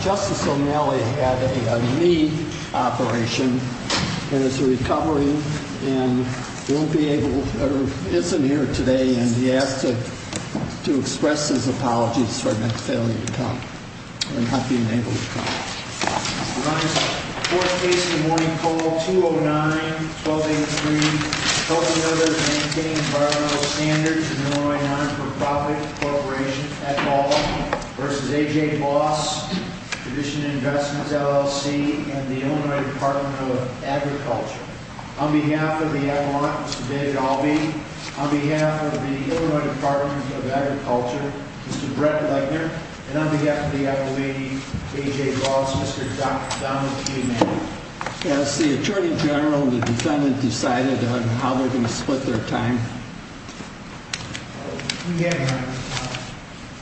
Justice O'Malley had a knee operation and is recovering and won't be able, or isn't here today, and he asked to express his apologies for not being able to come. We're on this fourth case of the morning call, 209-1283, Helping Others Maintain Environmental Standards in the Illinois Nonprofit Corporation at Baldwin v. A.J. Boss, Tradition Investments, LLC, and the Illinois Department of Agriculture. On behalf of the M.R.A., Mr. David Albee, on behalf of the Illinois Department of Agriculture, Mr. Brett Leitner, and on behalf of the M.R.A., A.J. Boss, Mr. Donald P. Manning. Has the Attorney General and the defendant decided on how they're going to split their time? We have, Your Honor.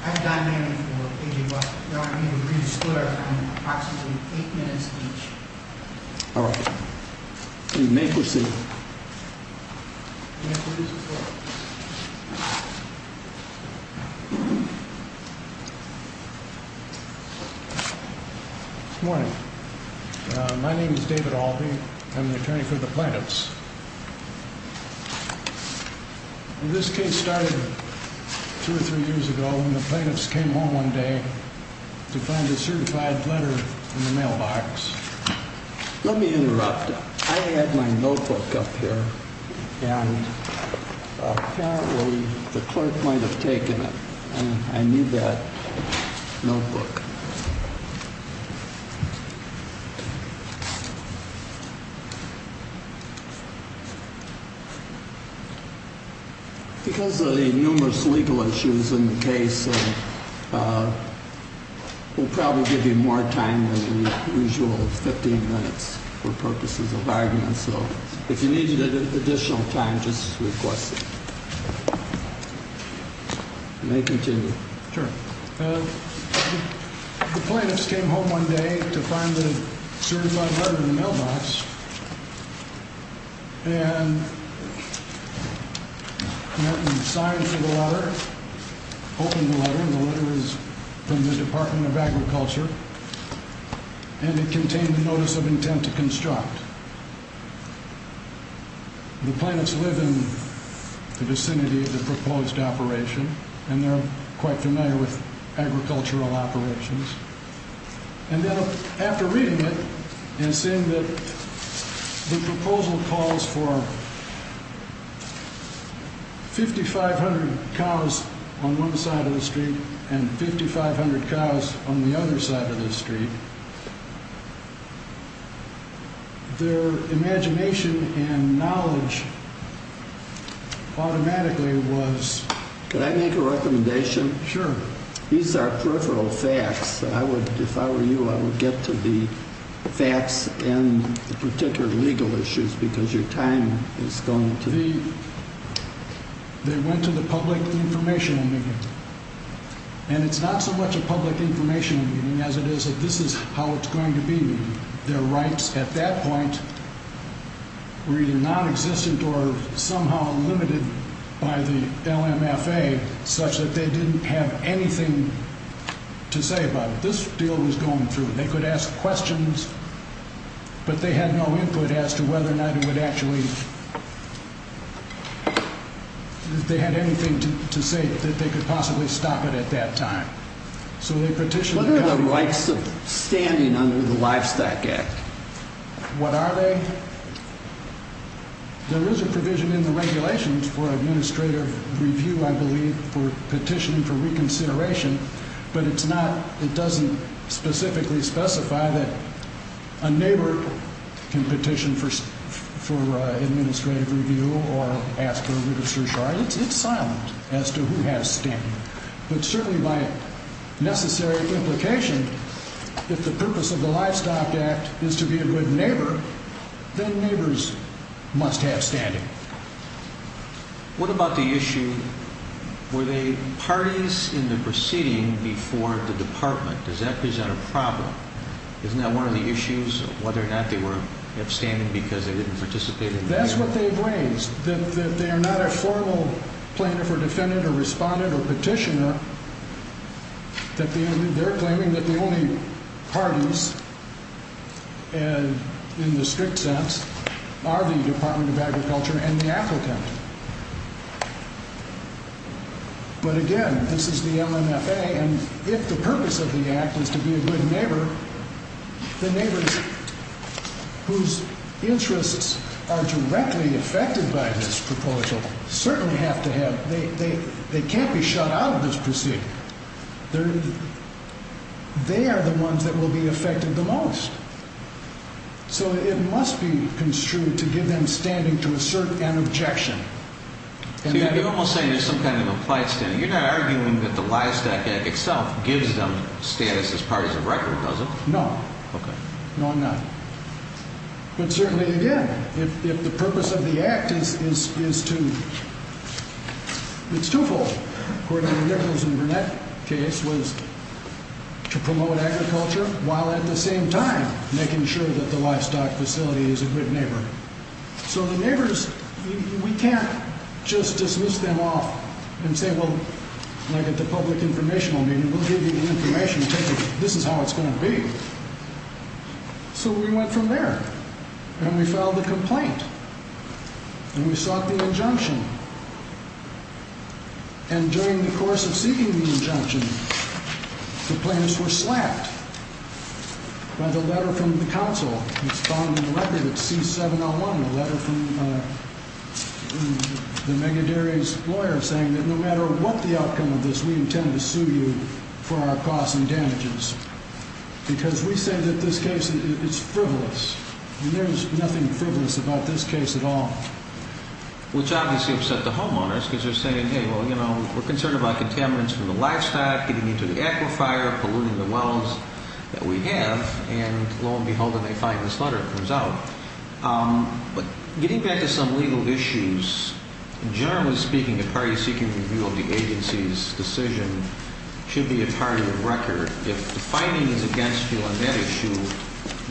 I've done many for A.J. Boss, but we're going to need to re-disclose approximately eight minutes each. All right. You may proceed. Good morning. My name is David Albee. I'm the attorney for the plaintiffs. This case started two or three years ago when the plaintiffs came home one day to find a certified letter in the mailbox. Let me interrupt. I have my notebook up here, and apparently the clerk might have taken it. I need that notebook. Because of the numerous legal issues in the case, we'll probably give you more time than the usual 15 minutes for purposes of argument. So if you need additional time, just request it. You may continue. Sure. The plaintiffs came home one day to find the certified letter in the mailbox. And they signed for the letter, opened the letter, and the letter is from the Department of Agriculture. And it contained a notice of intent to construct. The plaintiffs live in the vicinity of the proposed operation, and they're quite familiar with agricultural operations. And then after reading it and seeing that the proposal calls for 5,500 cows on one side of the street and 5,500 cows on the other side of the street, their imagination and knowledge automatically was... If I were you, I would get to the facts and the particular legal issues because your time is going to be... They went to the public information committee. And it's not so much a public information committee as it is that this is how it's going to be. Their rights at that point were either nonexistent or somehow limited by the LMFA such that they didn't have anything to say about it. This deal was going through. They could ask questions, but they had no input as to whether or not it would actually... if they had anything to say that they could possibly stop it at that time. What are the rights of standing under the Livestock Act? What are they? There is a provision in the regulations for administrative review, I believe, for petitioning for reconsideration, but it doesn't specifically specify that a neighbor can petition for administrative review or ask for a register of charge. It's silent as to who has standing. But certainly by necessary implication, if the purpose of the Livestock Act is to be a good neighbor, then neighbors must have standing. What about the issue, were there parties in the proceeding before the department? Does that present a problem? Isn't that one of the issues of whether or not they were upstanding because they didn't participate in the deal? That's what they've raised, that they're not a formal plaintiff or defendant or respondent or petitioner, that they're claiming that the only parties in the strict sense are the Department of Agriculture and the applicant. But again, this is the LMFA, and if the purpose of the act is to be a good neighbor, the neighbors whose interests are directly affected by this proposal certainly have to have – they can't be shut out of this proceeding. They are the ones that will be affected the most. So it must be construed to give them standing to assert an objection. So you're almost saying there's some kind of implied standing. You're not arguing that the Livestock Act itself gives them status as parties of record, does it? No. Okay. No, I'm not. But certainly, again, if the purpose of the act is to – it's twofold. According to Nichols and Burnett, the case was to promote agriculture while at the same time making sure that the livestock facility is a good neighbor. So the neighbors, we can't just dismiss them off and say, well, like at the public informational meeting, we'll give you the information. This is how it's going to be. So we went from there, and we filed a complaint, and we sought the injunction. And during the course of seeking the injunction, the plaintiffs were slapped by the letter from the counsel. It's found in the record. It's C-701, a letter from the Megaderry's lawyer saying that no matter what the outcome of this, we intend to sue you for our costs and damages. Because we say that this case is frivolous, and there is nothing frivolous about this case at all. Which obviously upset the homeowners because they're saying, hey, well, you know, we're concerned about contaminants from the livestock, getting into the aquifer, polluting the wells that we have. And lo and behold, they find this letter and it comes out. But getting back to some legal issues, generally speaking, the parties seeking review of the agency's decision should be a part of the record. If the finding is against you on that issue,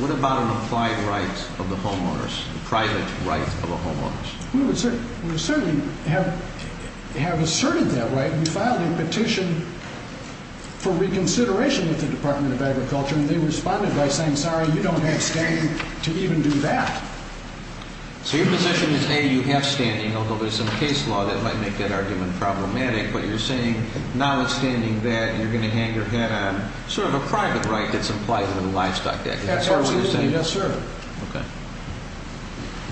what about an applied right of the homeowners, a private right of the homeowners? We certainly have asserted that right. We filed a petition for reconsideration with the Department of Agriculture, and they responded by saying, sorry, you don't have standing to even do that. So your position is, A, you have standing, although there's some case law that might make that argument problematic. But you're saying, notwithstanding that, you're going to hang your head on sort of a private right that's implied under the Livestock Act. Absolutely, yes, sir. Okay.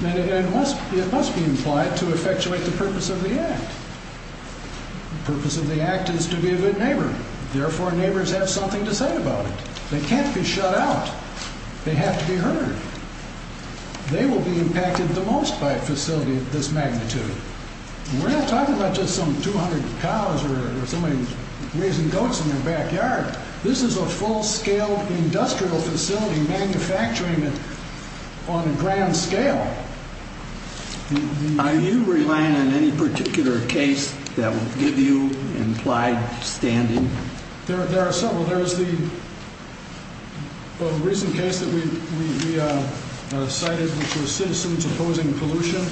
And it must be implied to effectuate the purpose of the act. The purpose of the act is to be a good neighbor. Therefore, neighbors have something to say about it. They can't be shut out. They have to be heard. They will be impacted the most by a facility of this magnitude. We're not talking about just some 200 cows or somebody raising goats in their backyard. This is a full-scale industrial facility manufacturing it on a grand scale. Are you relying on any particular case that would give you implied standing? There are several. There is the recent case that we cited, which was citizens opposing pollution.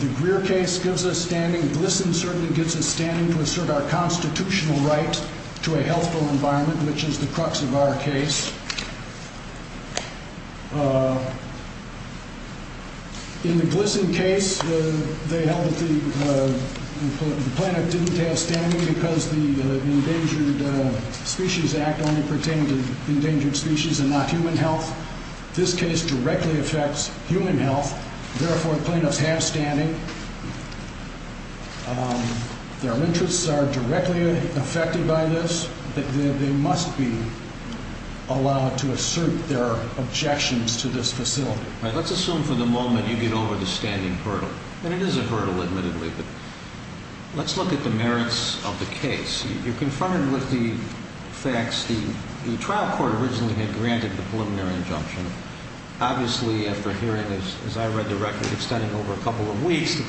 The Greer case gives us standing. GLSEN certainly gives us standing to assert our constitutional right to a healthful environment, which is the crux of our case. In the GLSEN case, they held that the plaintiff didn't have standing because the Endangered Species Act only pertained to endangered species and not human health. This case directly affects human health. Therefore, plaintiffs have standing. Their interests are directly affected by this. They must be allowed to assert their objections to this facility. Let's assume for the moment you get over the standing hurdle. It is a hurdle, admittedly. Let's look at the merits of the case. You're confronted with the facts. The trial court originally had granted the preliminary injunction. Obviously, after hearing, as I read the record, extending over a couple of weeks, the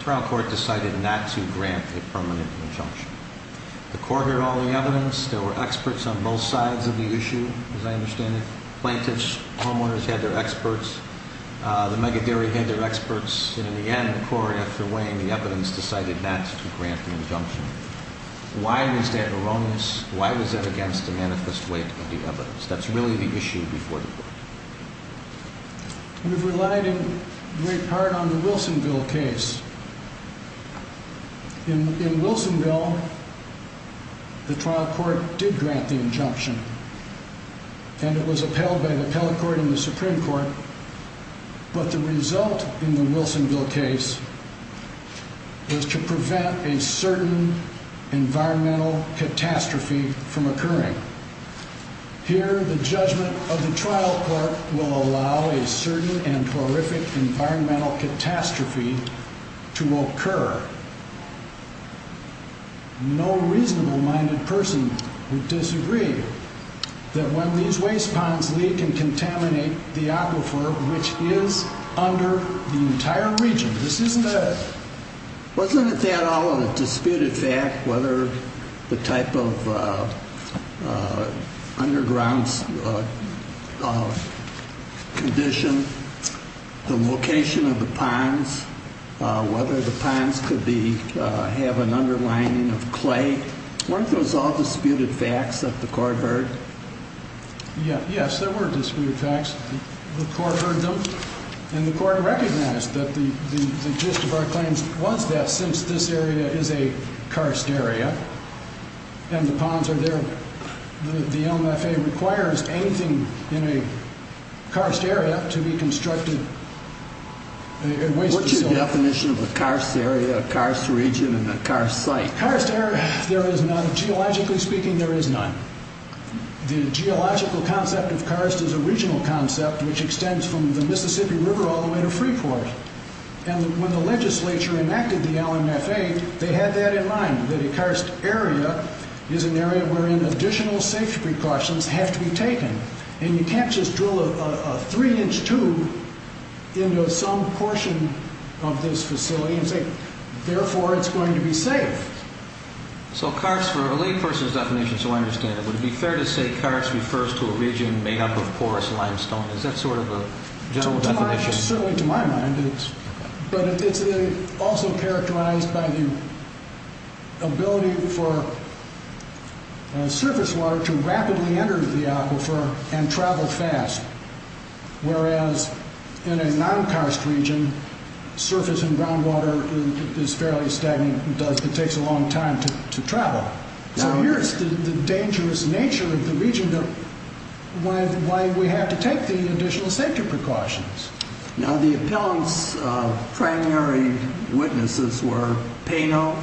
trial court decided not to grant the permanent injunction. The court heard all the evidence. There were experts on both sides of the issue, as I understand it. Plaintiffs, homeowners had their experts. The megadairy had their experts. And in the end, the court, after weighing the evidence, decided not to grant the injunction. Why was that erroneous? Why was that against the manifest weight of the evidence? That's really the issue before the court. We've relied in great part on the Wilsonville case. In Wilsonville, the trial court did grant the injunction. And it was upheld by the appellate court and the Supreme Court. But the result in the Wilsonville case was to prevent a certain environmental catastrophe from occurring. Here, the judgment of the trial court will allow a certain and horrific environmental catastrophe to occur. No reasonable-minded person would disagree that when these waste ponds leak and contaminate the aquifer, which is under the entire region. Wasn't that all a disputed fact, whether the type of underground condition, the location of the ponds, whether the ponds could have an underlining of clay? Weren't those all disputed facts that the court heard? Yes, there were disputed facts. The court heard them. And the court recognized that the gist of our claims was that since this area is a karst area, and the ponds are there, the LMFA requires anything in a karst area to be constructed a waste facility. What's your definition of a karst area, a karst region, and a karst site? Karst area, there is none. Geologically speaking, there is none. The geological concept of karst is a regional concept which extends from the Mississippi River all the way to Freeport. And when the legislature enacted the LMFA, they had that in mind, that a karst area is an area wherein additional safety precautions have to be taken. And you can't just drill a three-inch tube into some portion of this facility and say, therefore, it's going to be safe. So karst, for a layperson's definition, so I understand it, would it be fair to say karst refers to a region made up of porous limestone? Is that sort of a general definition? Certainly, to my mind, it is. But it's also characterized by the ability for surface water to rapidly enter the aquifer and travel fast. Whereas, in a non-karst region, surface and groundwater is fairly stagnant. It takes a long time to travel. So here's the dangerous nature of the region, why we have to take the additional safety precautions. Now, the appellant's primary witnesses were Pano,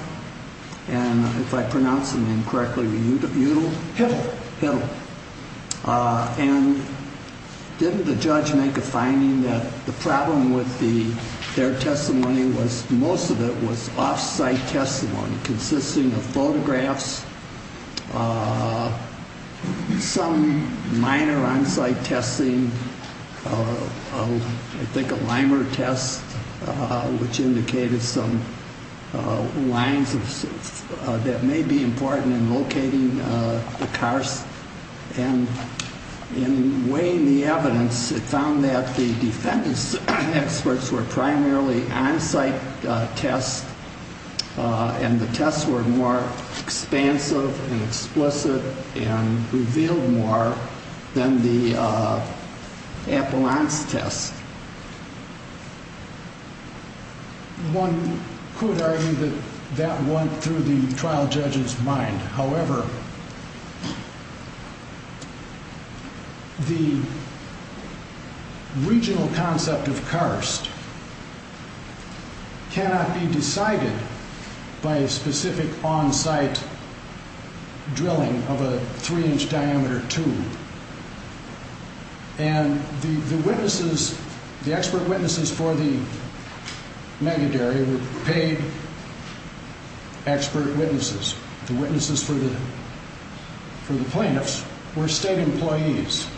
and if I pronounce the name correctly, Hiddle? Hiddle. And didn't the judge make a finding that the problem with their testimony was most of it was off-site testimony consisting of photographs, some minor on-site testing, I think a limer test, which indicated some lines that may be important in locating the karst. And in weighing the evidence, it found that the defendant's experts were primarily on-site tests, and the tests were more expansive and explicit and revealed more than the appellant's tests. One could argue that that went through the trial judge's mind. However, the regional concept of karst cannot be decided by a specific on-site drilling of a three-inch diameter tube. And the witnesses, the expert witnesses for the mega-dairy were paid expert witnesses. The witnesses for the plaintiffs were state employees.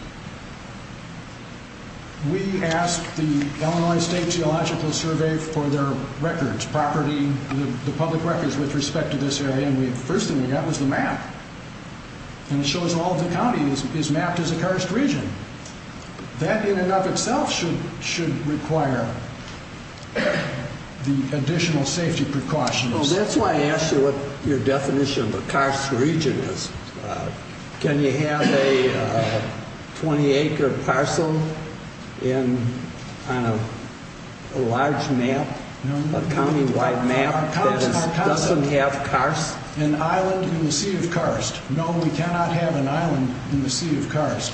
We asked the Illinois State Geological Survey for their records, property, the public records with respect to this area, and the first thing we got was the map, and it shows all of the counties is mapped as a karst region. That in and of itself should require the additional safety precautions. Well, that's why I asked you what your definition of a karst region is. Can you have a 20-acre parcel on a large map, a county-wide map that doesn't have karst? Can you have an island in the sea of karst? No, we cannot have an island in the sea of karst.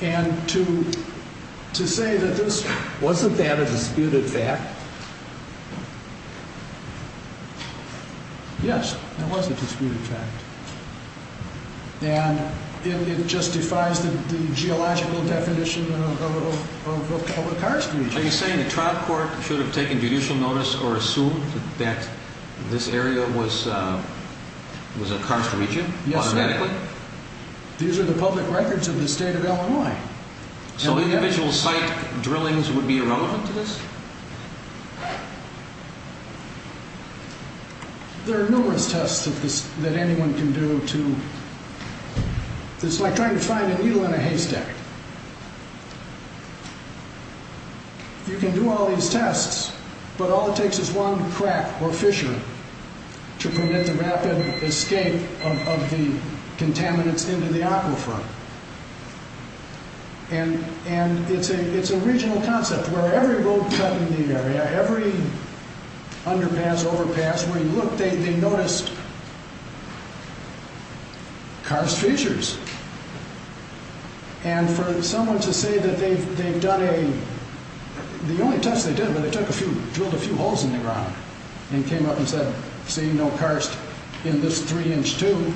And to say that this... Wasn't that a disputed fact? Yes, that was a disputed fact. And it justifies the geological definition of a karst region. Are you saying the trial court should have taken judicial notice or assumed that this area was a karst region automatically? Yes, sir. These are the public records of the state of Illinois. So individual site drillings would be irrelevant to this? There are numerous tests that anyone can do to... It's like trying to find a needle in a haystack. You can do all these tests, but all it takes is one crack or fissure to permit the rapid escape of the contaminants into the aquifer. And it's a regional concept where every road cut in the area, every underpass, overpass, where you look, they noticed karst fissures. And for someone to say that they've done a... The only test they did was they drilled a few holes in the ground and came up and said, See, no karst in this three-inch tube.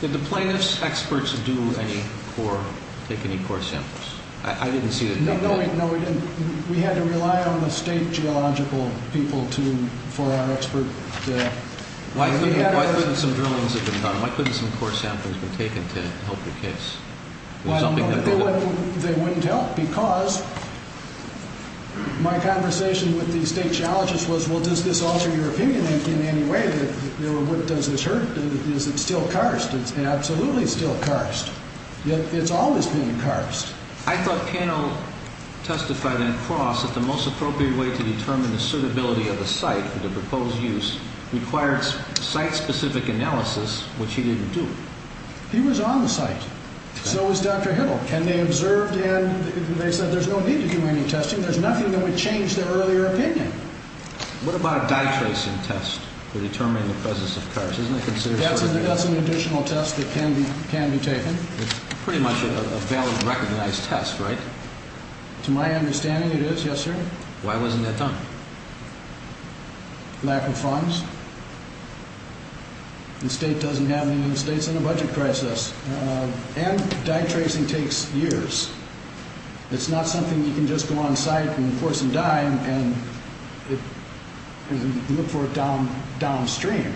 Did the plaintiff's experts do any core, take any core samples? I didn't see that they did. No, we didn't. We had to rely on the state geological people for our expert... Why couldn't some drillings have been done? Why couldn't some core samples have been taken to help the case? Well, they wouldn't help because my conversation with the state geologists was, Well, does this alter your opinion in any way? Does this hurt? Is it still karst? It's absolutely still karst. It's always been karst. I thought Cano testified in Cross that the most appropriate way to determine the suitability of the site for the proposed use required site-specific analysis, which he didn't do. He was on the site. So was Dr. Hiddle. And they observed and they said there's no need to do any testing. There's nothing that would change their earlier opinion. What about a dye-tracing test for determining the presence of karst? Isn't it considered... That's an additional test that can be taken. It's pretty much a valid, recognized test, right? To my understanding, it is, yes, sir. Why wasn't that done? Lack of funds. The state doesn't have any in the state. It's in a budget crisis. And dye-tracing takes years. It's not something you can just go on site and force them to dye and look for it downstream.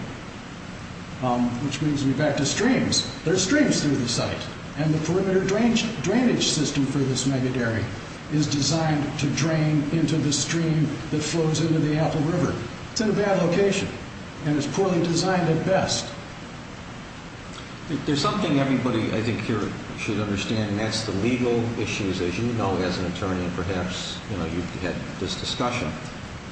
Which brings me back to streams. There are streams through the site, and the perimeter drainage system for this megadairy is designed to drain into the stream that flows into the Apple River. It's in a bad location, and it's poorly designed at best. There's something everybody, I think, here should understand, and that's the legal issues. As you know, as an attorney, perhaps you've had this discussion.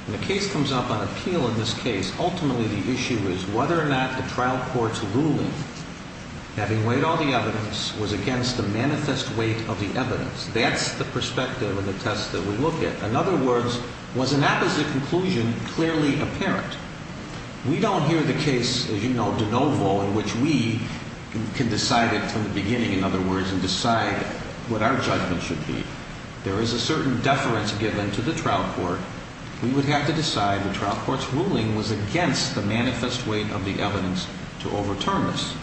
When a case comes up on appeal in this case, ultimately the issue is whether or not a trial court's ruling having weighed all the evidence was against the manifest weight of the evidence. That's the perspective of the test that we look at. In other words, was an apposite conclusion clearly apparent? We don't hear the case, as you know, de novo, in which we can decide it from the beginning, in other words, and decide what our judgment should be. There is a certain deference given to the trial court. We would have to decide the trial court's ruling was against the manifest weight of the evidence to overturn this.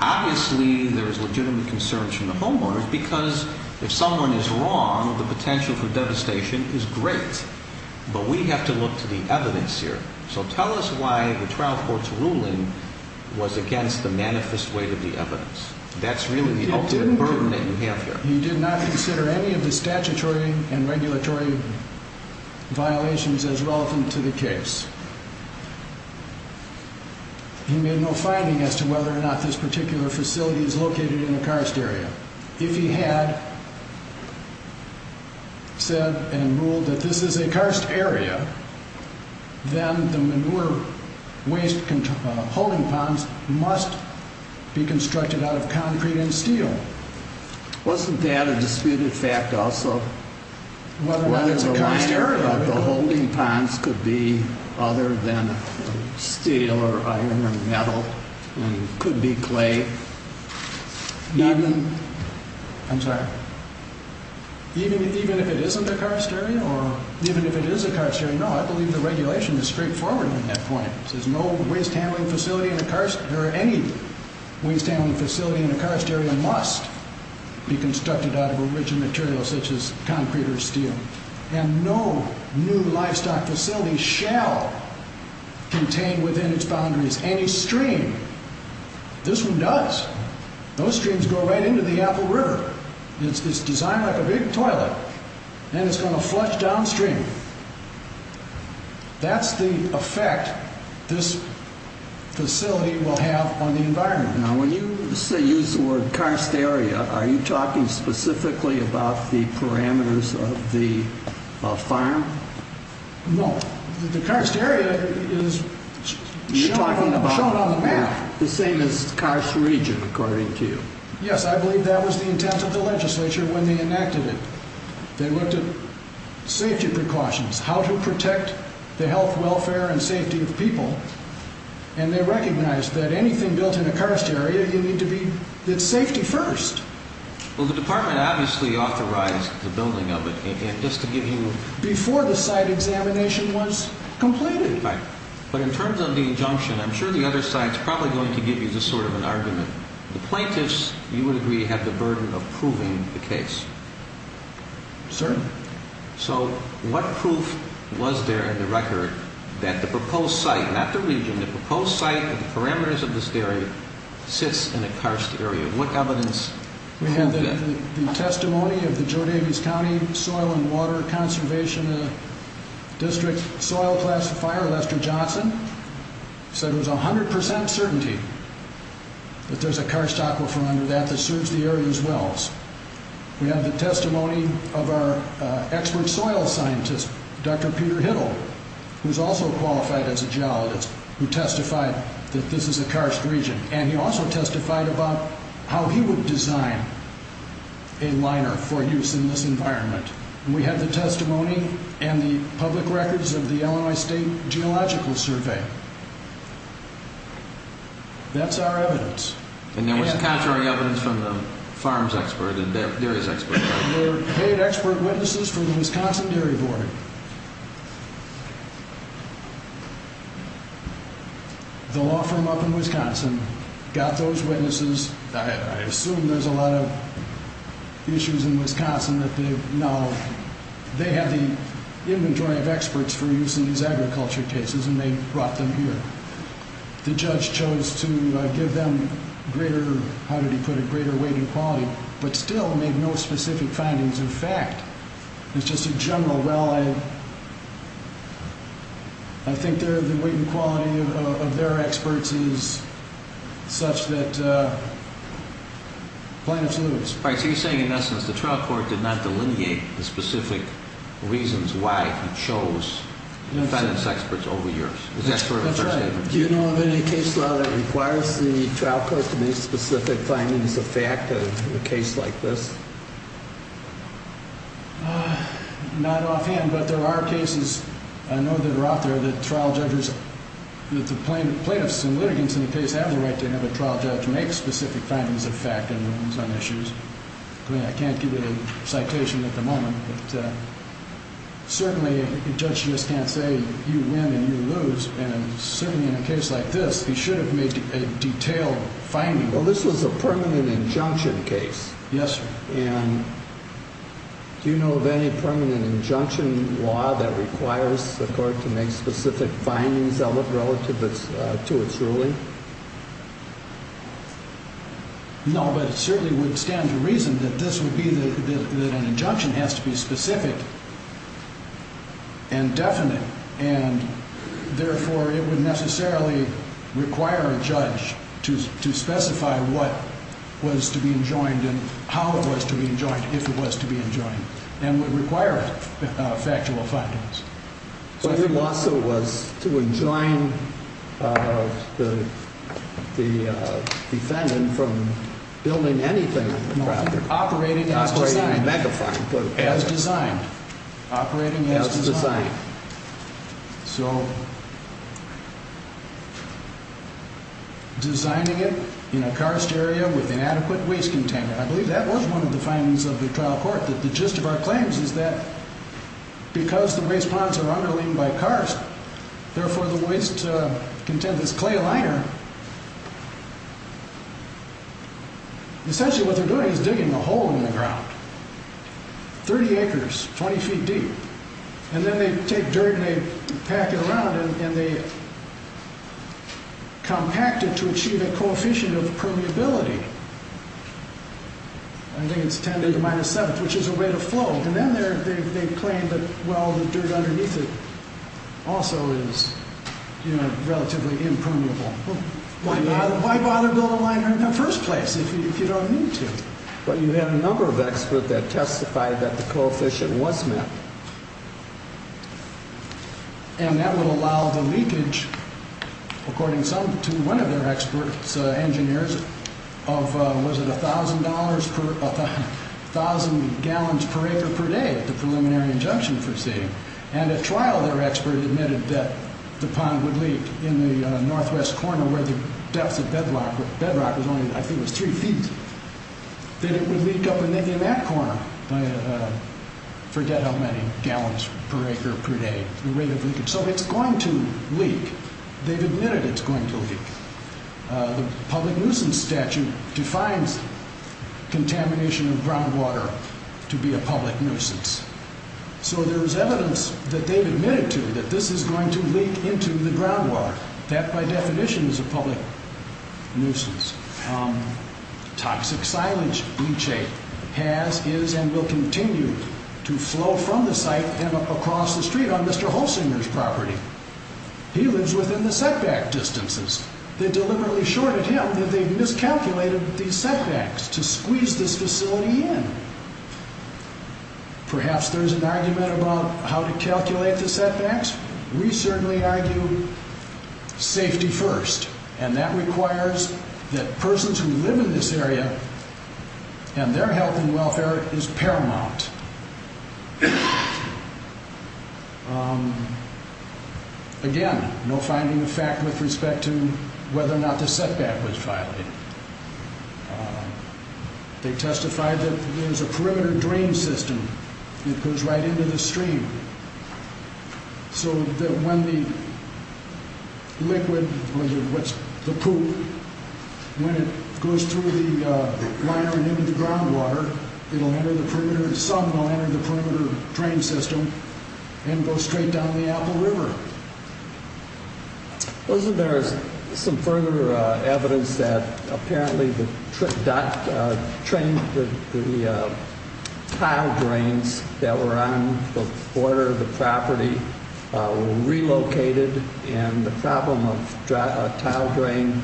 Obviously, there is legitimate concern from the homeowners, because if someone is wrong, the potential for devastation is great. But we have to look to the evidence here. So tell us why the trial court's ruling was against the manifest weight of the evidence. That's really the ultimate burden that you have here. He did not consider any of the statutory and regulatory violations as relevant to the case. He made no finding as to whether or not this particular facility is located in a karst area. If he had said and ruled that this is a karst area, then the manure waste holding ponds must be constructed out of concrete and steel. Wasn't that a disputed fact also? Whether or not it's a karst area. Whether or not the holding ponds could be other than steel or iron or metal and could be clay. I'm sorry. Even if it isn't a karst area or even if it is a karst area? No, I believe the regulation is straightforward on that point. It says no waste handling facility in a karst or any waste handling facility in a karst area must be constructed out of a rich material such as concrete or steel. And no new livestock facility shall contain within its boundaries any stream. This one does. Those streams go right into the Apple River. It's designed like a big toilet. And it's going to flush downstream. That's the effect this facility will have on the environment. Now, when you use the word karst area, are you talking specifically about the parameters of the farm? No. The karst area is shown on the map. The same as karst region, according to you. Yes, I believe that was the intent of the legislature when they enacted it. They looked at safety precautions, how to protect the health, welfare, and safety of people. And they recognized that anything built in a karst area, you need to be safety first. Well, the department obviously authorized the building of it. Before the site examination was completed. But in terms of the injunction, I'm sure the other side is probably going to give you this sort of an argument. The plaintiffs, you would agree, have the burden of proving the case. Certainly. So what proof was there in the record that the proposed site, not the region, the proposed site, the parameters of this area, sits in a karst area? What evidence? We have the testimony of the Joe Davies County Soil and Water Conservation District Soil Classifier, Lester Johnson. So there's 100% certainty that there's a karst aquifer under that that serves the area's wells. We have the testimony of our expert soil scientist, Dr. Peter Hiddle, who's also qualified as a geologist, who testified that this is a karst region. And he also testified about how he would design a liner for use in this environment. We have the testimony and the public records of the Illinois State Geological Survey. That's our evidence. And there was contrary evidence from the farms expert and the dairies expert. There were paid expert witnesses from the Wisconsin Dairy Board. The law firm up in Wisconsin got those witnesses. I assume there's a lot of issues in Wisconsin that they have the inventory of experts for use in these agriculture cases and they brought them here. The judge chose to give them greater, how did he put it, greater weight and quality, but still made no specific findings of fact. It's just a general, well, I think the weight and quality of their experts is such that plaintiffs lose. All right, so you're saying, in essence, the trial court did not delineate the specific reasons why he chose defendants experts over yours. Is that sort of a fair statement? That's right. Do you know of any case law that requires the trial court to make specific findings of fact of a case like this? Not offhand, but there are cases, I know that are out there, that trial judges, that the plaintiffs and litigants in the case have the right to have a trial judge make specific findings of fact on certain issues. I mean, I can't give you the citation at the moment. Certainly, a judge just can't say you win and you lose, and certainly in a case like this, he should have made a detailed finding. Well, this was a permanent injunction case. Yes, sir. And do you know of any permanent injunction law that requires the court to make specific findings of it relative to its ruling? No, but it certainly would stand to reason that this would be that an injunction has to be specific and definite, and therefore, it would necessarily require a judge to specify what was to be enjoined and how it was to be enjoined, if it was to be enjoined, and would require factual findings. So your lawsuit was to enjoin the defendant from building anything on the property. Operating as designed. Operating a mega-farm. As designed. Operating as designed. As designed. So, designing it in a karst area with inadequate waste container. I believe that was one of the findings of the trial court, that the gist of our claims is that because the waste ponds are underling by karst, therefore, the waste content is clay liner. Essentially, what they're doing is digging a hole in the ground. 30 acres, 20 feet deep. And then they take dirt and they pack it around and they compact it to achieve a coefficient of permeability. I think it's 10 to the minus 7th, which is a rate of flow. And then they claim that, well, the dirt underneath it also is relatively impermeable. Why bother building a liner in the first place if you don't need to? But you had a number of experts that testified that the coefficient was met. And that would allow the leakage, according to one of their experts, engineers, of, was it $1,000 gallons per acre per day, the preliminary injunction foreseeing. And at trial, their expert admitted that the pond would leak in the northwest corner where the depth of bedrock was only, I think it was three feet. That it would leak up in that corner by, forget how many gallons per acre per day, the rate of leakage. So it's going to leak. They've admitted it's going to leak. The public nuisance statute defines contamination of groundwater to be a public nuisance. So there's evidence that they've admitted to that this is going to leak into the groundwater. That, by definition, is a public nuisance. Toxic silage, Leachate, has, is, and will continue to flow from the site and across the street on Mr. Holsinger's property. He lives within the setback distances. They deliberately shorted him that they've miscalculated these setbacks to squeeze this facility in. Perhaps there's an argument about how to calculate the setbacks. We certainly argue safety first. And that requires that persons who live in this area and their health and welfare is paramount. Again, no finding of fact with respect to whether or not the setback was violated. They testified that there's a perimeter drain system that goes right into the stream. So that when the liquid, what's, the poop, when it goes through the liner and into the groundwater, it'll enter the perimeter, some will enter the perimeter drain system and go straight down the Apple River. Wasn't there some further evidence that apparently the, that the tile drains that were on the border of the property were relocated and the problem of tile drain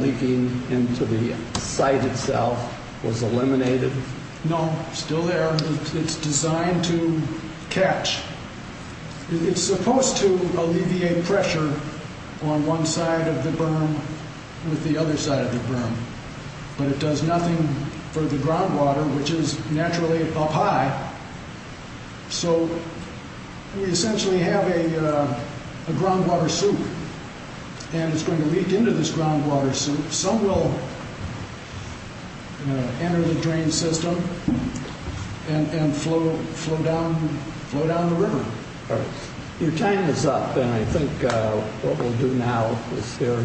leaking into the site itself was eliminated? No, still there. It's designed to catch. It's supposed to alleviate pressure on one side of the berm with the other side of the berm. But it does nothing for the groundwater, which is naturally up high. So we essentially have a groundwater soup and it's going to leak into this groundwater soup. Some will enter the drain system and flow down the river. All right. Your time is up and I think what we'll do now is hear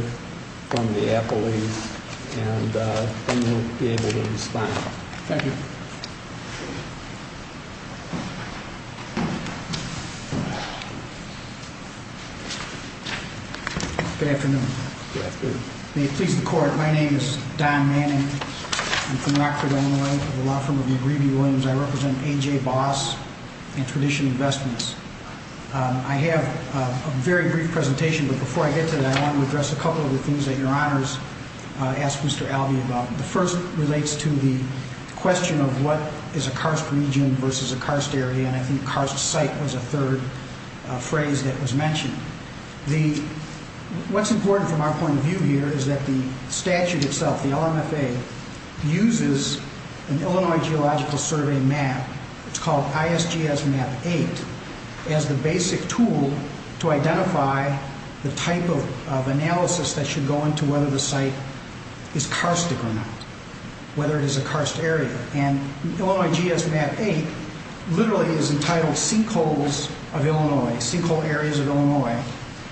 from the appellees and then we'll be able to respond. Thank you. Good afternoon. Good afternoon. May it please the Court, my name is Don Manning. I'm from Rockford, Illinois, from the law firm of McGreevy Williams. I represent A.J. Boss and Tradition Investments. I have a very brief presentation, but before I get to that, I want to address a couple of the things that Your Honors asked Mr. Alvey about. The first relates to the question of what is a karst region versus a karst area, and I think karst site was a third phrase that was mentioned. What's important from our point of view here is that the statute itself, the LMFA, uses an Illinois Geological Survey map, it's called ISGS Map 8, as the basic tool to identify the type of analysis that should go into whether the site is karstic or not, whether it is a karst area. And Illinois GS Map 8 literally is entitled sinkholes of Illinois, sinkhole areas of Illinois.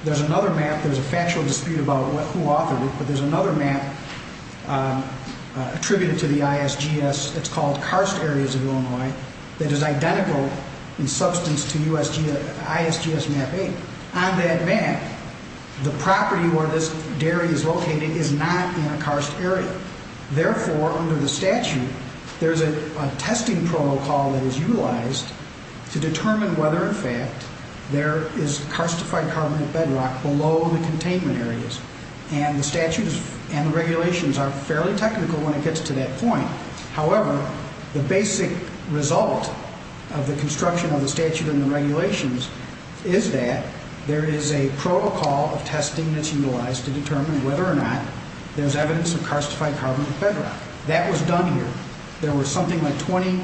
There's another map, there's a factual dispute about who authored it, but there's another map attributed to the ISGS that's called karst areas of Illinois that is identical in substance to ISGS Map 8. On that map, the property where this dairy is located is not in a karst area. Therefore, under the statute, there's a testing protocol that is utilized to determine whether, in fact, there is karstified carbon bedrock below the containment areas. And the statute and regulations are fairly technical when it gets to that point. However, the basic result of the construction of the statute and the regulations is that there is a protocol of testing that's utilized to determine whether or not there's evidence of karstified carbon bedrock. That was done here. There were something like 20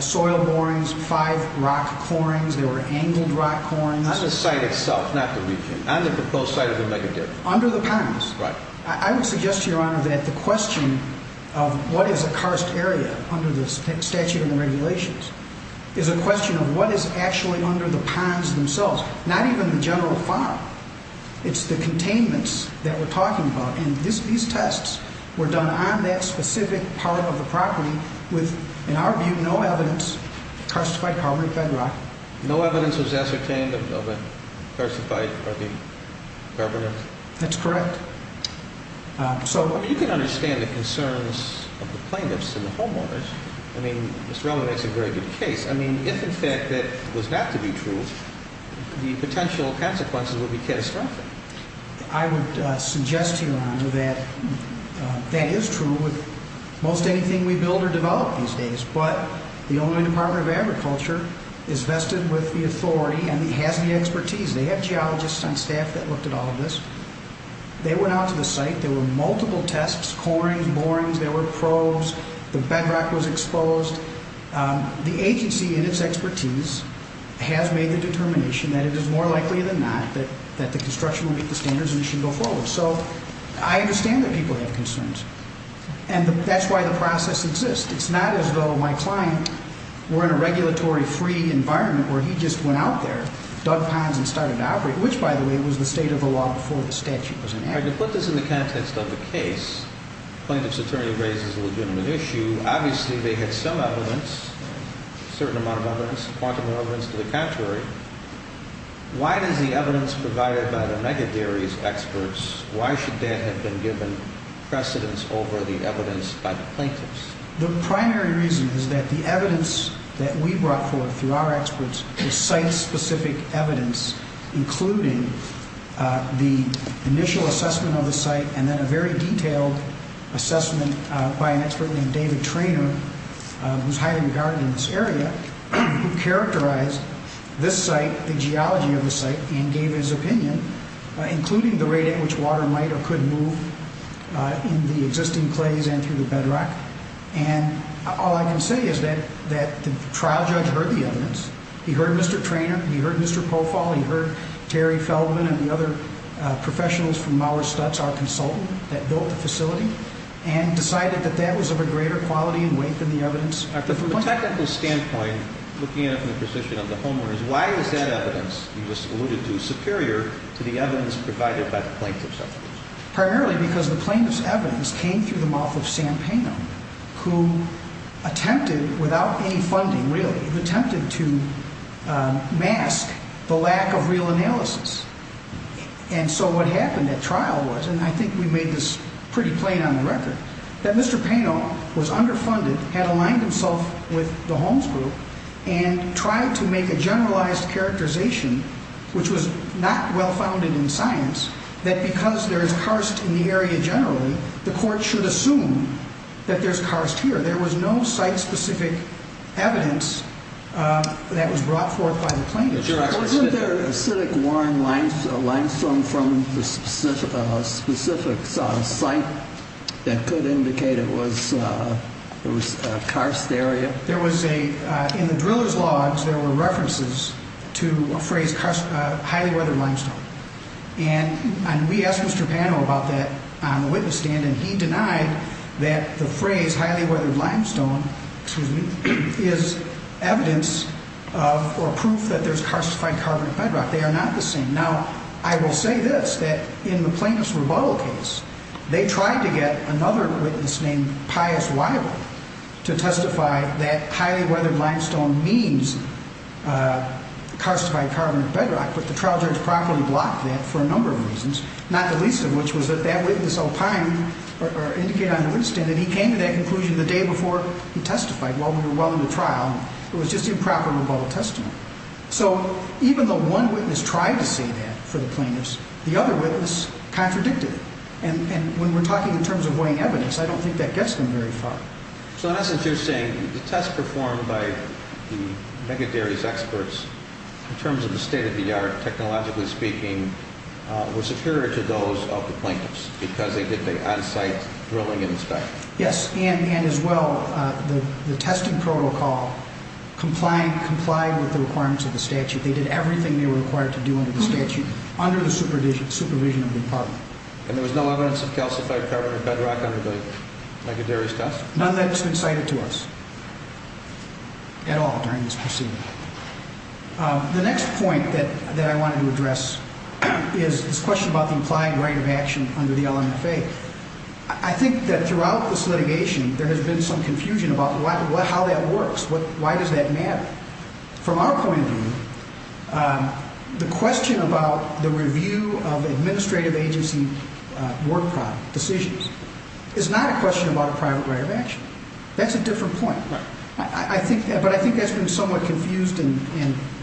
soil borings, 5 rock corings, there were angled rock corings. On the site itself, not the region, on the proposed site of the mega-dip. Under the ponds. Right. I would suggest to Your Honor that the question of what is a karst area under the statute and the regulations is a question of what is actually under the ponds themselves. Not even the general farm. It's the containments that we're talking about. And these tests were done on that specific part of the property with, in our view, no evidence of karstified carbon bedrock. No evidence was ascertained of a karstified carbon bedrock? That's correct. I mean, you can understand the concerns of the plaintiffs and the homeowners. I mean, Ms. Relman makes a very good case. I mean, if in fact that was not to be true, the potential consequences would be catastrophic. I would suggest to Your Honor that that is true with most anything we build or develop these days. But the Illinois Department of Agriculture is vested with the authority and has the expertise. They have geologists on staff that looked at all of this. They went out to the site. There were multiple tests, corings, borings. There were probes. The bedrock was exposed. The agency in its expertise has made the determination that it is more likely than not that the construction will meet the standards and it should go forward. So I understand that people have concerns. And that's why the process exists. It's not as though my client were in a regulatory-free environment where he just went out there, dug ponds and started to operate, which, by the way, was the state of the law before the statute was enacted. All right, to put this in the context of the case, plaintiff's attorney raises a legitimate issue. Obviously, they had some evidence, a certain amount of evidence, quantum of evidence. To the contrary, why does the evidence provided by the mega-dairies experts, why should that have been given precedence over the evidence by the plaintiffs? The primary reason is that the evidence that we brought forward through our experts is site-specific evidence, including the initial assessment of the site and then a very detailed assessment by an expert named David Traynor, who's highly regarded in this area, who characterized this site, the geology of the site, and gave his opinion, including the rate at which water might or could move in the existing clays and through the bedrock. And all I can say is that the trial judge heard the evidence. He heard Mr. Traynor. He heard Mr. Pofall. He heard Terry Feldman and the other professionals from Maurer Stutz, our consultant that built the facility, and decided that that was of a greater quality and weight than the evidence. From a technical standpoint, looking at it from the position of the homeowners, why is that evidence you just alluded to superior to the evidence provided by the plaintiff's experts? Primarily because the plaintiff's evidence came through the mouth of Sam Pano, who attempted, without any funding really, attempted to mask the lack of real analysis. And so what happened at trial was, and I think we made this pretty plain on the record, that Mr. Pano was underfunded, had aligned himself with the Holmes Group, and tried to make a generalized characterization, which was not well-founded in science, that because there is karst in the area generally, the court should assume that there's karst here. There was no site-specific evidence that was brought forth by the plaintiff. Wasn't there acidic-worn limestone from a specific site that could indicate it was a karst area? In the driller's logs there were references to a phrase, highly weathered limestone. And we asked Mr. Pano about that on the witness stand, and he denied that the phrase highly weathered limestone is evidence or proof that there's karstified carbonic bedrock. They are not the same. Now, I will say this, that in the plaintiff's rebuttal case, they tried to get another witness named Pius Weibel to testify that highly weathered limestone means karstified carbonic bedrock, but the trial judge properly blocked that for a number of reasons, not the least of which was that that witness, Alpine, indicated on the witness stand that he came to that conclusion the day before he testified while we were well into trial. It was just improper rebuttal testimony. So even though one witness tried to say that for the plaintiffs, the other witness contradicted it. And when we're talking in terms of weighing evidence, I don't think that gets them very far. So in essence, you're saying the test performed by the Megaderry's experts in terms of the state-of-the-art, technologically speaking, was superior to those of the plaintiffs because they did the on-site drilling and inspection? Yes, and as well, the testing protocol complied with the requirements of the statute. They did everything they were required to do under the statute under the supervision of the department. And there was no evidence of karstified carbonic bedrock under the Megaderry's test? None that's been cited to us at all during this proceeding. The next point that I wanted to address is this question about the implied right of action under the LMFA. I think that throughout this litigation, there has been some confusion about how that works. Why does that matter? From our point of view, the question about the review of administrative agency work decisions is not a question about a private right of action. That's a different point. But I think that's been somewhat confused and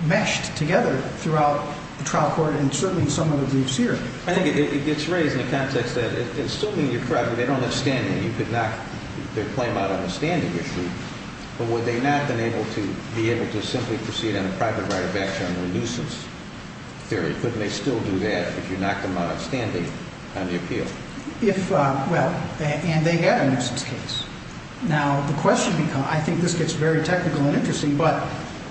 meshed together throughout the trial court and certainly in some of the briefs here. I think it gets raised in the context that assuming you're correct, if they don't have standing, you could knock their claim out on the standing issue. But would they not have been able to be able to simply proceed on a private right of action under a nuisance theory? Couldn't they still do that if you knocked them out on standing on the appeal? Well, and they had a nuisance case. Now, I think this gets very technical and interesting, but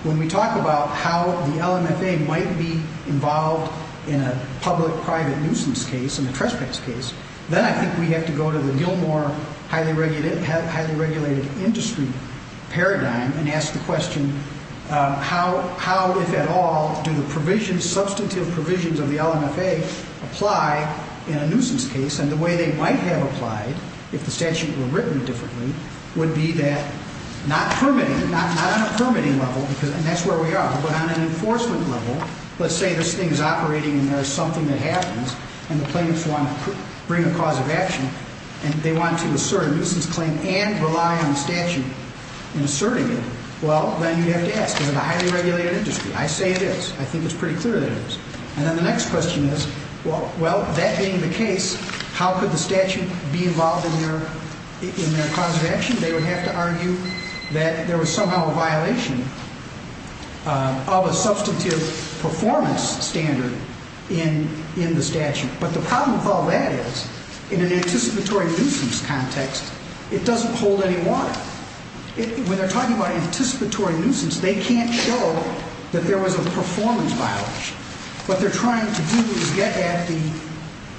when we talk about how the LMFA might be involved in a public-private nuisance case, in a trespass case, then I think we have to go to the Gilmore highly regulated industry paradigm and ask the question, how, if at all, do the substantive provisions of the LMFA apply in a nuisance case? And the way they might have applied, if the statute were written differently, would be that not on a permitting level, and that's where we are, but on an enforcement level. Let's say this thing is operating and there's something that happens and the plaintiffs want to bring a cause of action and they want to assert a nuisance claim and rely on the statute in asserting it. Well, then you'd have to ask, is it a highly regulated industry? I say it is. I think it's pretty clear that it is. And then the next question is, well, that being the case, how could the statute be involved in their cause of action? They would have to argue that there was somehow a violation of a substantive performance standard in the statute. But the problem with all that is, in an anticipatory nuisance context, it doesn't hold any water. When they're talking about anticipatory nuisance, they can't show that there was a performance violation. What they're trying to do is get at the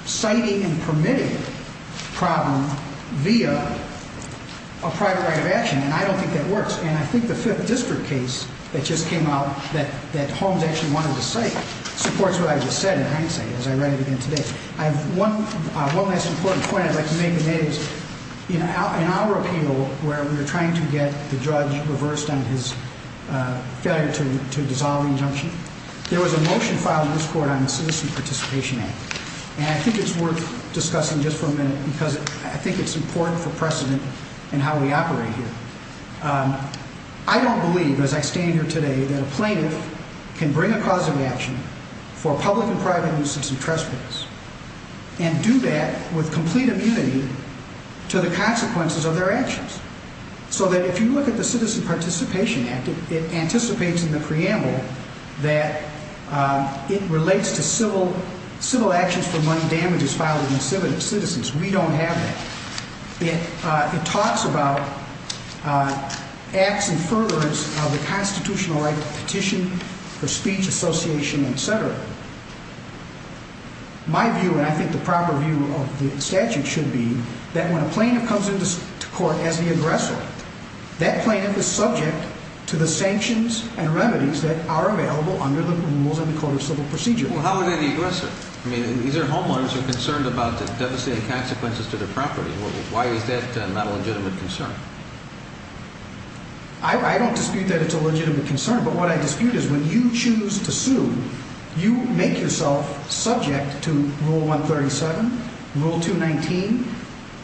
citing and permitting problem via a private right of action, and I don't think that works. And I think the Fifth District case that just came out that Holmes actually wanted to cite supports what I just said in hindsight as I read it again today. One last important point I'd like to make today is, in our appeal where we were trying to get the judge reversed on his failure to dissolve the injunction, there was a motion filed in this court on the Citizen Participation Act, and I think it's worth discussing just for a minute because I think it's important for precedent in how we operate here. I don't believe, as I stand here today, that a plaintiff can bring a cause of action for public and private nuisance and trespass and do that with complete immunity to the consequences of their actions. So that if you look at the Citizen Participation Act, it anticipates in the preamble that it relates to civil actions for money damages filed against citizens. We don't have that. It talks about acts in furtherance of the constitutional right to petition for speech, association, et cetera. My view, and I think the proper view of the statute should be that when a plaintiff comes into court as the aggressor, that plaintiff is subject to the sanctions and remedies that are available under the rules of the Court of Civil Procedure. Well, how are they the aggressor? I mean, these are homeowners who are concerned about the devastating consequences to their property. Why is that not a legitimate concern? I don't dispute that it's a legitimate concern, but what I dispute is when you choose to sue, you make yourself subject to Rule 137, Rule 219,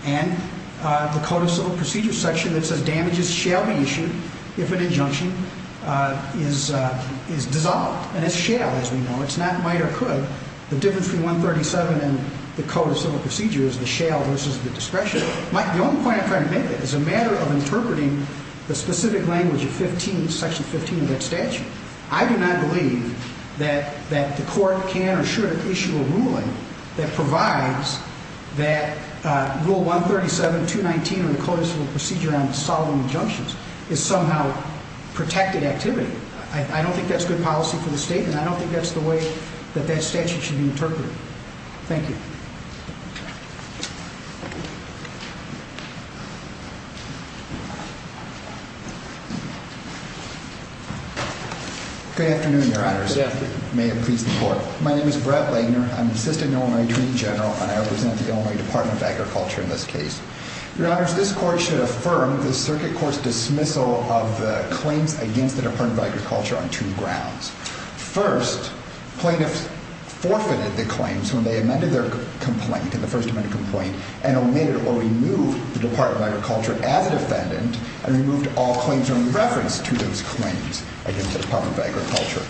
and the Court of Civil Procedure section that says damages shall be issued if an injunction is dissolved. And it's shall, as we know. It's not might or could. The difference between 137 and the Code of Civil Procedure is the shall versus the discretion. The only point I'm trying to make is it's a matter of interpreting the specific language of Section 15 of that statute. I do not believe that the Court can or should issue a ruling that provides that Rule 137, 219, or the Code of Civil Procedure on dissolving injunctions is somehow protected activity. I don't think that's good policy for the state, and I don't think that's the way that that statute should be interpreted. Thank you. Good afternoon, Your Honors. Good afternoon. May it please the Court. My name is Brett Lagner. I'm Assistant Illinois Treaty General, and I represent the Illinois Department of Agriculture in this case. Your Honors, this Court should affirm the circuit court's dismissal of the claims against the Department of Agriculture on two grounds. First, plaintiffs forfeited the claims when they amended their complaint, the first amendment complaint, and omitted or removed the Department of Agriculture as a defendant and removed all claims in reference to those claims against the Department of Agriculture.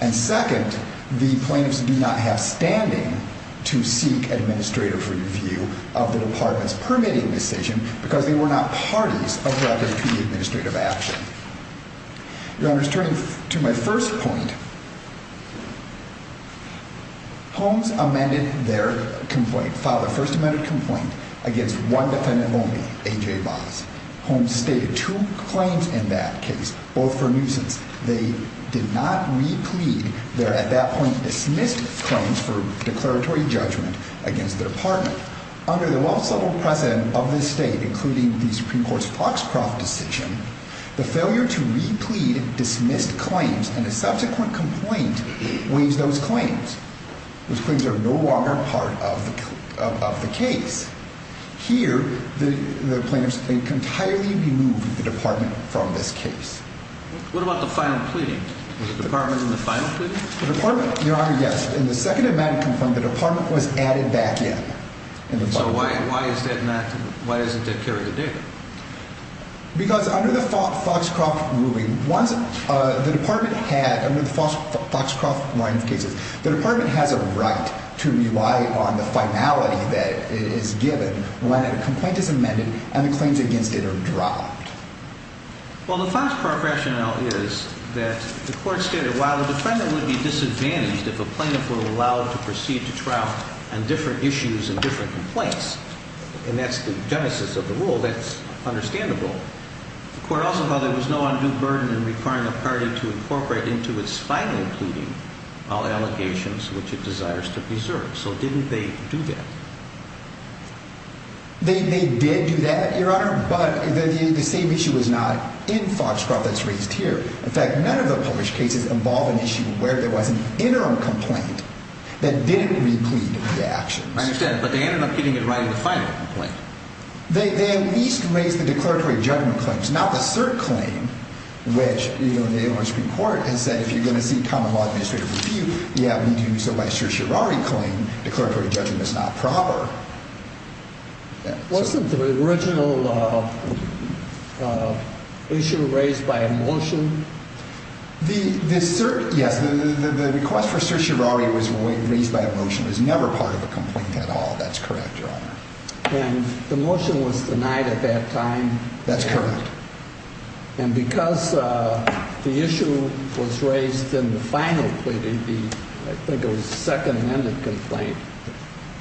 And second, the plaintiffs do not have standing to seek administrative review of the Department's permitting decision because they were not parties of that APA administrative action. Your Honors, turning to my first point, Holmes amended their complaint, filed a first amendment complaint, against one defendant only, A.J. Voss. Holmes stated two claims in that case, both for nuisance. They did not replead their, at that point, dismissed claims for declaratory judgment against their partner. Under the well-subtle precedent of this state, including the Supreme Court's Foxcroft decision, the failure to replead dismissed claims in a subsequent complaint waives those claims. Those claims are no longer part of the case. Here, the plaintiffs entirely removed the Department from this case. What about the final pleading? Was the Department in the final pleading? The Department, Your Honor, yes. In the second amendment complaint, the Department was added back in. So why is that not, why isn't that carried today? Because under the Foxcroft ruling, once the Department had, under the Foxcroft line of cases, the Department has a right to rely on the finality that is given when a complaint is amended and the claims against it are dropped. Well, the Foxcroft rationale is that the court stated, while the defendant would be disadvantaged if a plaintiff were allowed to proceed to trial on different issues and different complaints, and that's the genesis of the rule, that's understandable. The court also held there was no undue burden in requiring a party to incorporate into its final pleading all allegations which it desires to preserve. So didn't they do that? They did do that, Your Honor, but the same issue was not in Foxcroft that's raised here. In fact, none of the published cases involve an issue where there was an interim complaint that didn't replete the actions. I understand, but they ended up getting it right in the final complaint. They at least raised the declaratory judgment claims, not the cert claim, which, you know, the Illinois Supreme Court has said if you're going to seek common law administrative review, you have to do so by certiorari claim. Declaratory judgment is not proper. Wasn't the original issue raised by a motion? Yes, the request for certiorari was raised by a motion. It was never part of a complaint at all. That's correct, Your Honor. And the motion was denied at that time. That's correct. And because the issue was raised in the final pleading, I think it was a second amended complaint,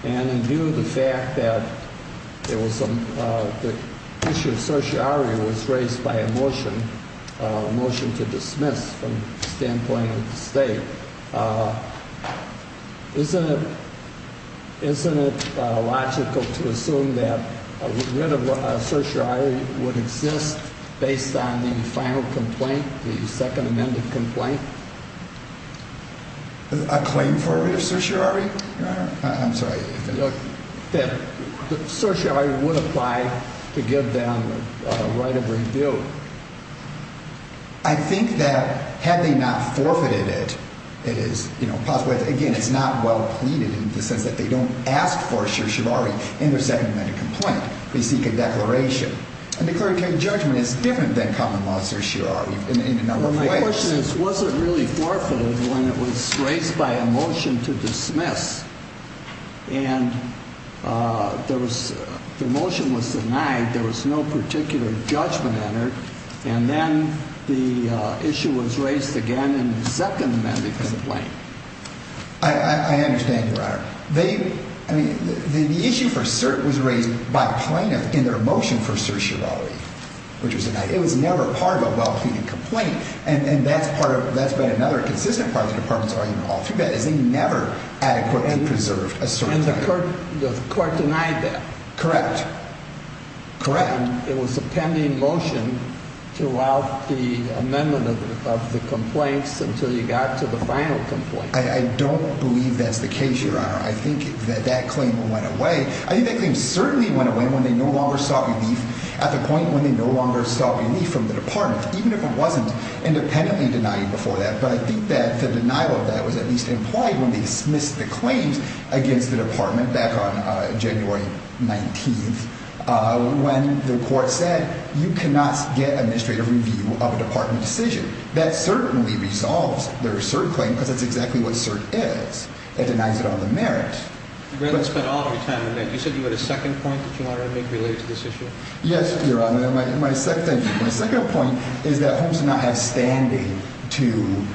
and in view of the fact that the issue of certiorari was raised by a motion, a motion to dismiss from the standpoint of the state, isn't it logical to assume that a writ of certiorari would exist based on the final complaint, the second amended complaint? A claim for a writ of certiorari, Your Honor? I'm sorry. That certiorari would apply to give them a right of review. I think that had they not forfeited it, it is, you know, possibly, again, it's not well pleaded in the sense that they don't ask for certiorari in their second amended complaint. They seek a declaration. And declaratory judgment is different than common law certiorari in a number of ways. My question is, was it really forfeited when it was raised by a motion to dismiss, and the motion was denied, there was no particular judgment entered, and then the issue was raised again in the second amended complaint? The issue for cert was raised by plaintiff in their motion for certiorari, which was denied. It was never part of a well pleaded complaint. And that's part of, that's been another consistent part of the department's argument all through that is they never adequately preserved a certiorari. And the court denied that. Correct. And it was a pending motion throughout the amendment of the complaints until you got to the final complaint. I don't believe that's the case, Your Honor. I think that that claim went away. I think that claim certainly went away when they no longer sought relief at the point when they no longer sought relief from the department, even if it wasn't independently denied before that. But I think that the denial of that was at least implied when they dismissed the claims against the department back on January 19th when the court said you cannot get administrative review of a department decision. That certainly resolves their cert claim because that's exactly what cert is. It denies it on the merit. You spent all of your time on that. You said you had a second point that you wanted to make related to this issue? Yes, Your Honor. My second point is that Holmes did not have standing to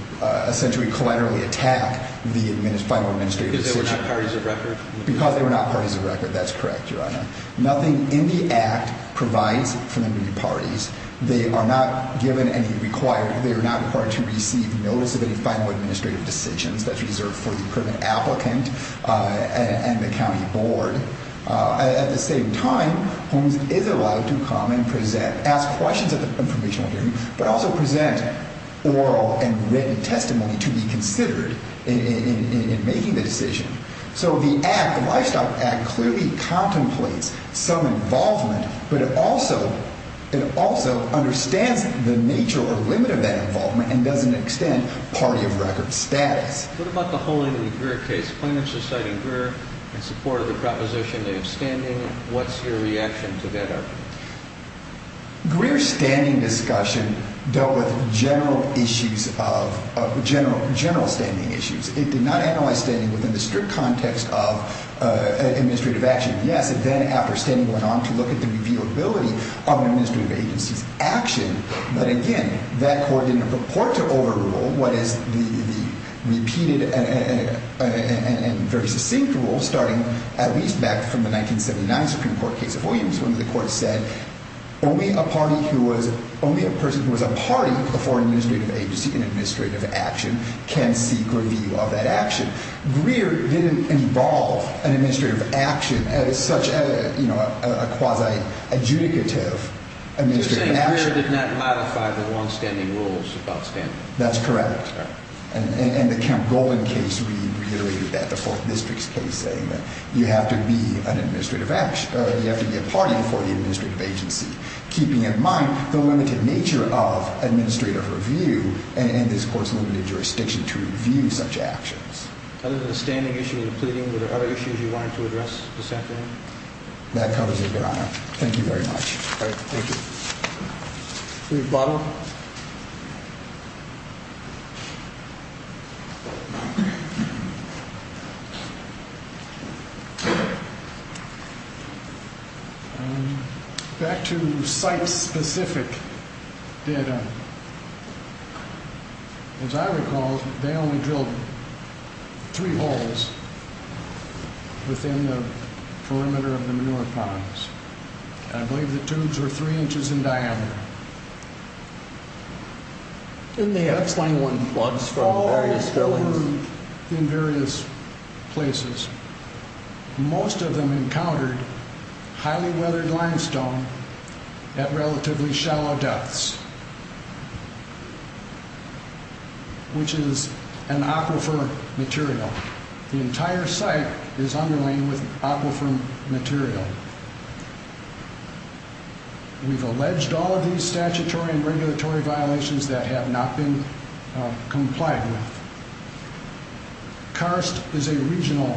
essentially collaterally attack the final administrative decision. Because they were not parties of record? Because they were not parties of record. Nothing in the act provides for them to be parties. They are not given any required, they are not required to receive notice of any final administrative decisions that's reserved for the permanent applicant and the county board. At the same time, Holmes is allowed to come and present, ask questions at the informational hearing, but also present oral and written testimony to be considered in making the decision. So the act, the Livestock Act, clearly contemplates some involvement, but it also understands the nature or limit of that involvement and doesn't extend party of record status. What about the Holman and Greer case? Plaintiff's just cited Greer in support of the proposition of standing. What's your reaction to that argument? Greer's standing discussion dealt with general issues of, general standing issues. It did not analyze standing within the strict context of administrative action. Yes, it then, after standing, went on to look at the revealability of an administrative agency's action. But again, that court didn't purport to overrule what is the repeated and very succinct rule, starting at least back from the 1979 Supreme Court case of Williams, when the court said only a person who was a party before an administrative agency in administrative action can seek review of that action. Greer didn't involve an administrative action as such a quasi-adjudicative administrative action. You're saying Greer did not modify the longstanding rules about standing? That's correct. And the Kemp-Golden case reiterated that, the Fourth District's case, saying that you have to be a party before the administrative agency, keeping in mind the limited nature of administrative review and this court's limited jurisdiction to review such actions. Other than the standing issue in the pleading, were there other issues you wanted to address this afternoon? That covers it, Your Honor. Thank you very much. All right. Thank you. Chief Butler? Back to site-specific data, as I recall, they only drilled three holes within the perimeter of the manure ponds. I believe the tubes were three inches in diameter. And they had floods from various fillings? All the tubes in various places. Most of them encountered highly weathered limestone at relatively shallow depths, which is an aquifer material. The entire site is underlain with aquifer material. We've alleged all of these statutory and regulatory violations that have not been complied with. Karst is a regional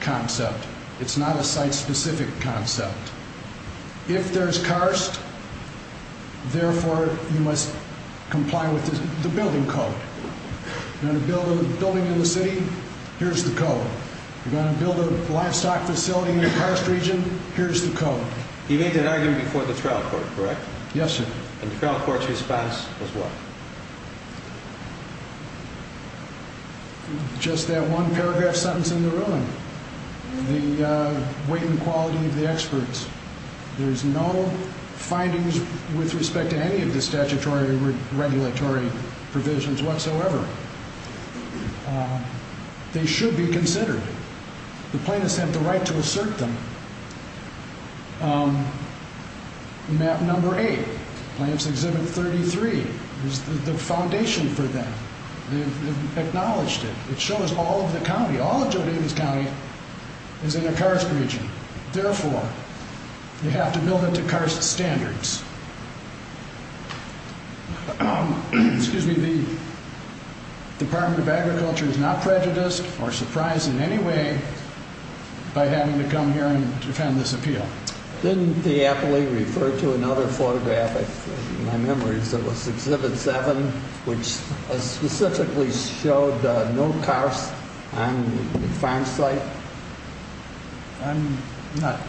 concept. It's not a site-specific concept. If there's karst, therefore, you must comply with the building code. If you're going to build a building in the city, here's the code. If you're going to build a livestock facility in the karst region, here's the code. You made that argument before the trial court, correct? Yes, sir. And the trial court's response was what? Just that one paragraph sentence in the ruling. The weight and quality of the experts. There's no findings with respect to any of the statutory or regulatory provisions whatsoever. They should be considered. The plaintiffs have the right to assert them. Map number eight, Plaintiffs' Exhibit 33, is the foundation for that. They've acknowledged it. It shows all of the county, all of Joe Davis County is in a karst region. Therefore, they have to build it to karst standards. The Department of Agriculture is not prejudiced or surprised in any way by having to come here and defend this appeal. Didn't the appellee refer to another photograph? In my memory, it was Exhibit 7, which specifically showed no karst on the farm site. I'm not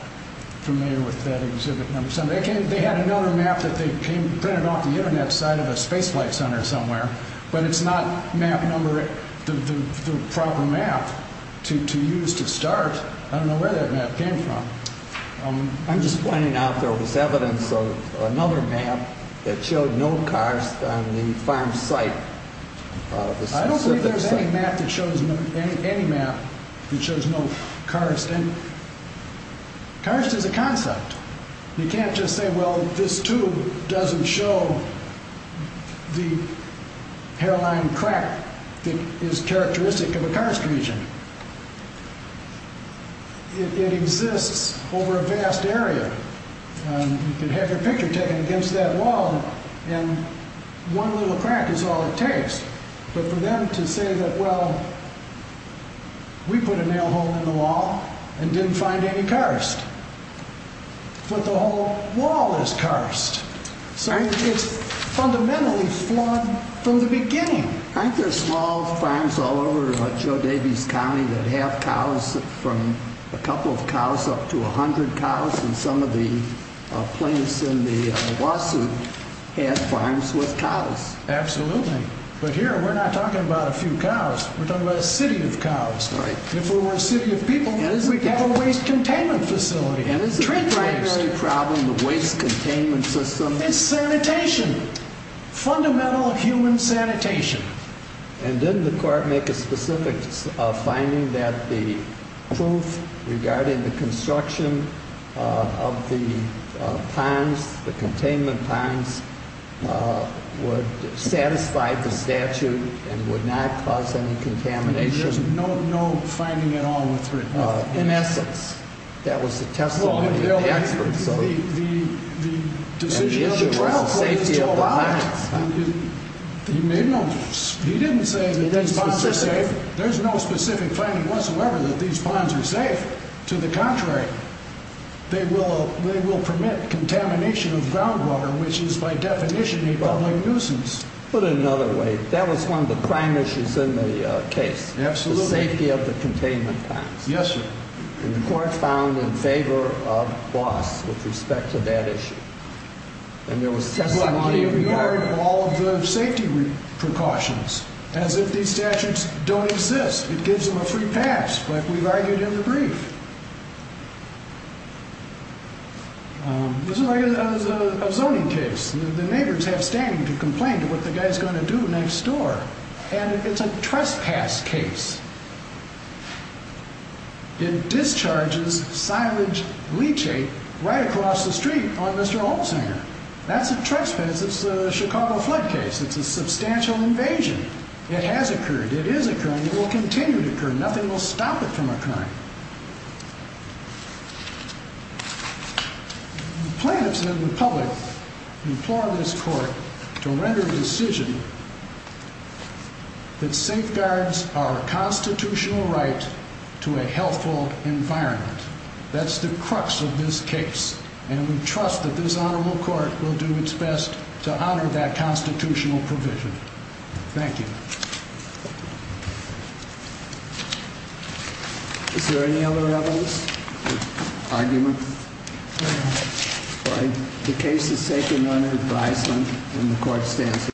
familiar with that Exhibit 7. They had another map that they printed off the Internet site of a space flight center somewhere, but it's not the proper map to use to start. I don't know where that map came from. I'm just pointing out there was evidence of another map that showed no karst on the farm site. I don't believe there's any map that shows no karst. Karst is a concept. You can't just say, well, this tube doesn't show the hairline crack that is characteristic of a karst region. It exists over a vast area. You can have your picture taken against that wall, and one little crack is all it takes. But for them to say that, well, we put a nail hole in the wall and didn't find any karst. But the whole wall is karst. So it's fundamentally flawed from the beginning. Aren't there small farms all over Joe Davies County that have cows, from a couple of cows up to 100 cows? And some of the plaintiffs in the lawsuit had farms with cows. Absolutely. But here, we're not talking about a few cows. We're talking about a city of cows. If we were a city of people, we'd have a waste containment facility. And isn't the primary problem of waste containment systems? It's sanitation. Fundamental human sanitation. And didn't the court make a specific finding that the proof regarding the construction of the ponds, the containment ponds, would satisfy the statute and would not cause any contamination? There's no finding at all with regard to that. In essence, that was the testimony of the experts. And the issue was the safety of the ponds. He didn't say that these ponds are safe. There's no specific finding whatsoever that these ponds are safe. To the contrary, they will permit contamination of groundwater, which is by definition a public nuisance. Put it another way, that was one of the prime issues in the case, the safety of the containment ponds. Yes, sir. And the court found in favor of Boss with respect to that issue. And there was testimony in regard to all of the safety precautions. As if these statutes don't exist, it gives them a free pass, like we've argued in the brief. This is a zoning case. The neighbors have standing to complain to what the guy's going to do next door. And it's a trespass case. It discharges silage leachate right across the street on Mr. Olsen. That's a trespass. It's a Chicago flood case. It's a substantial invasion. It has occurred. It is occurring. It will continue to occur. Nothing will stop it from occurring. Plaintiffs and the public implore this court to render a decision that safeguards our constitutional right to a healthful environment. That's the crux of this case. And we trust that this honorable court will do its best to honor that constitutional provision. Thank you. Is there any other evidence? Argument? No. All right. The case is taken under advisement, and the court stands adjourned.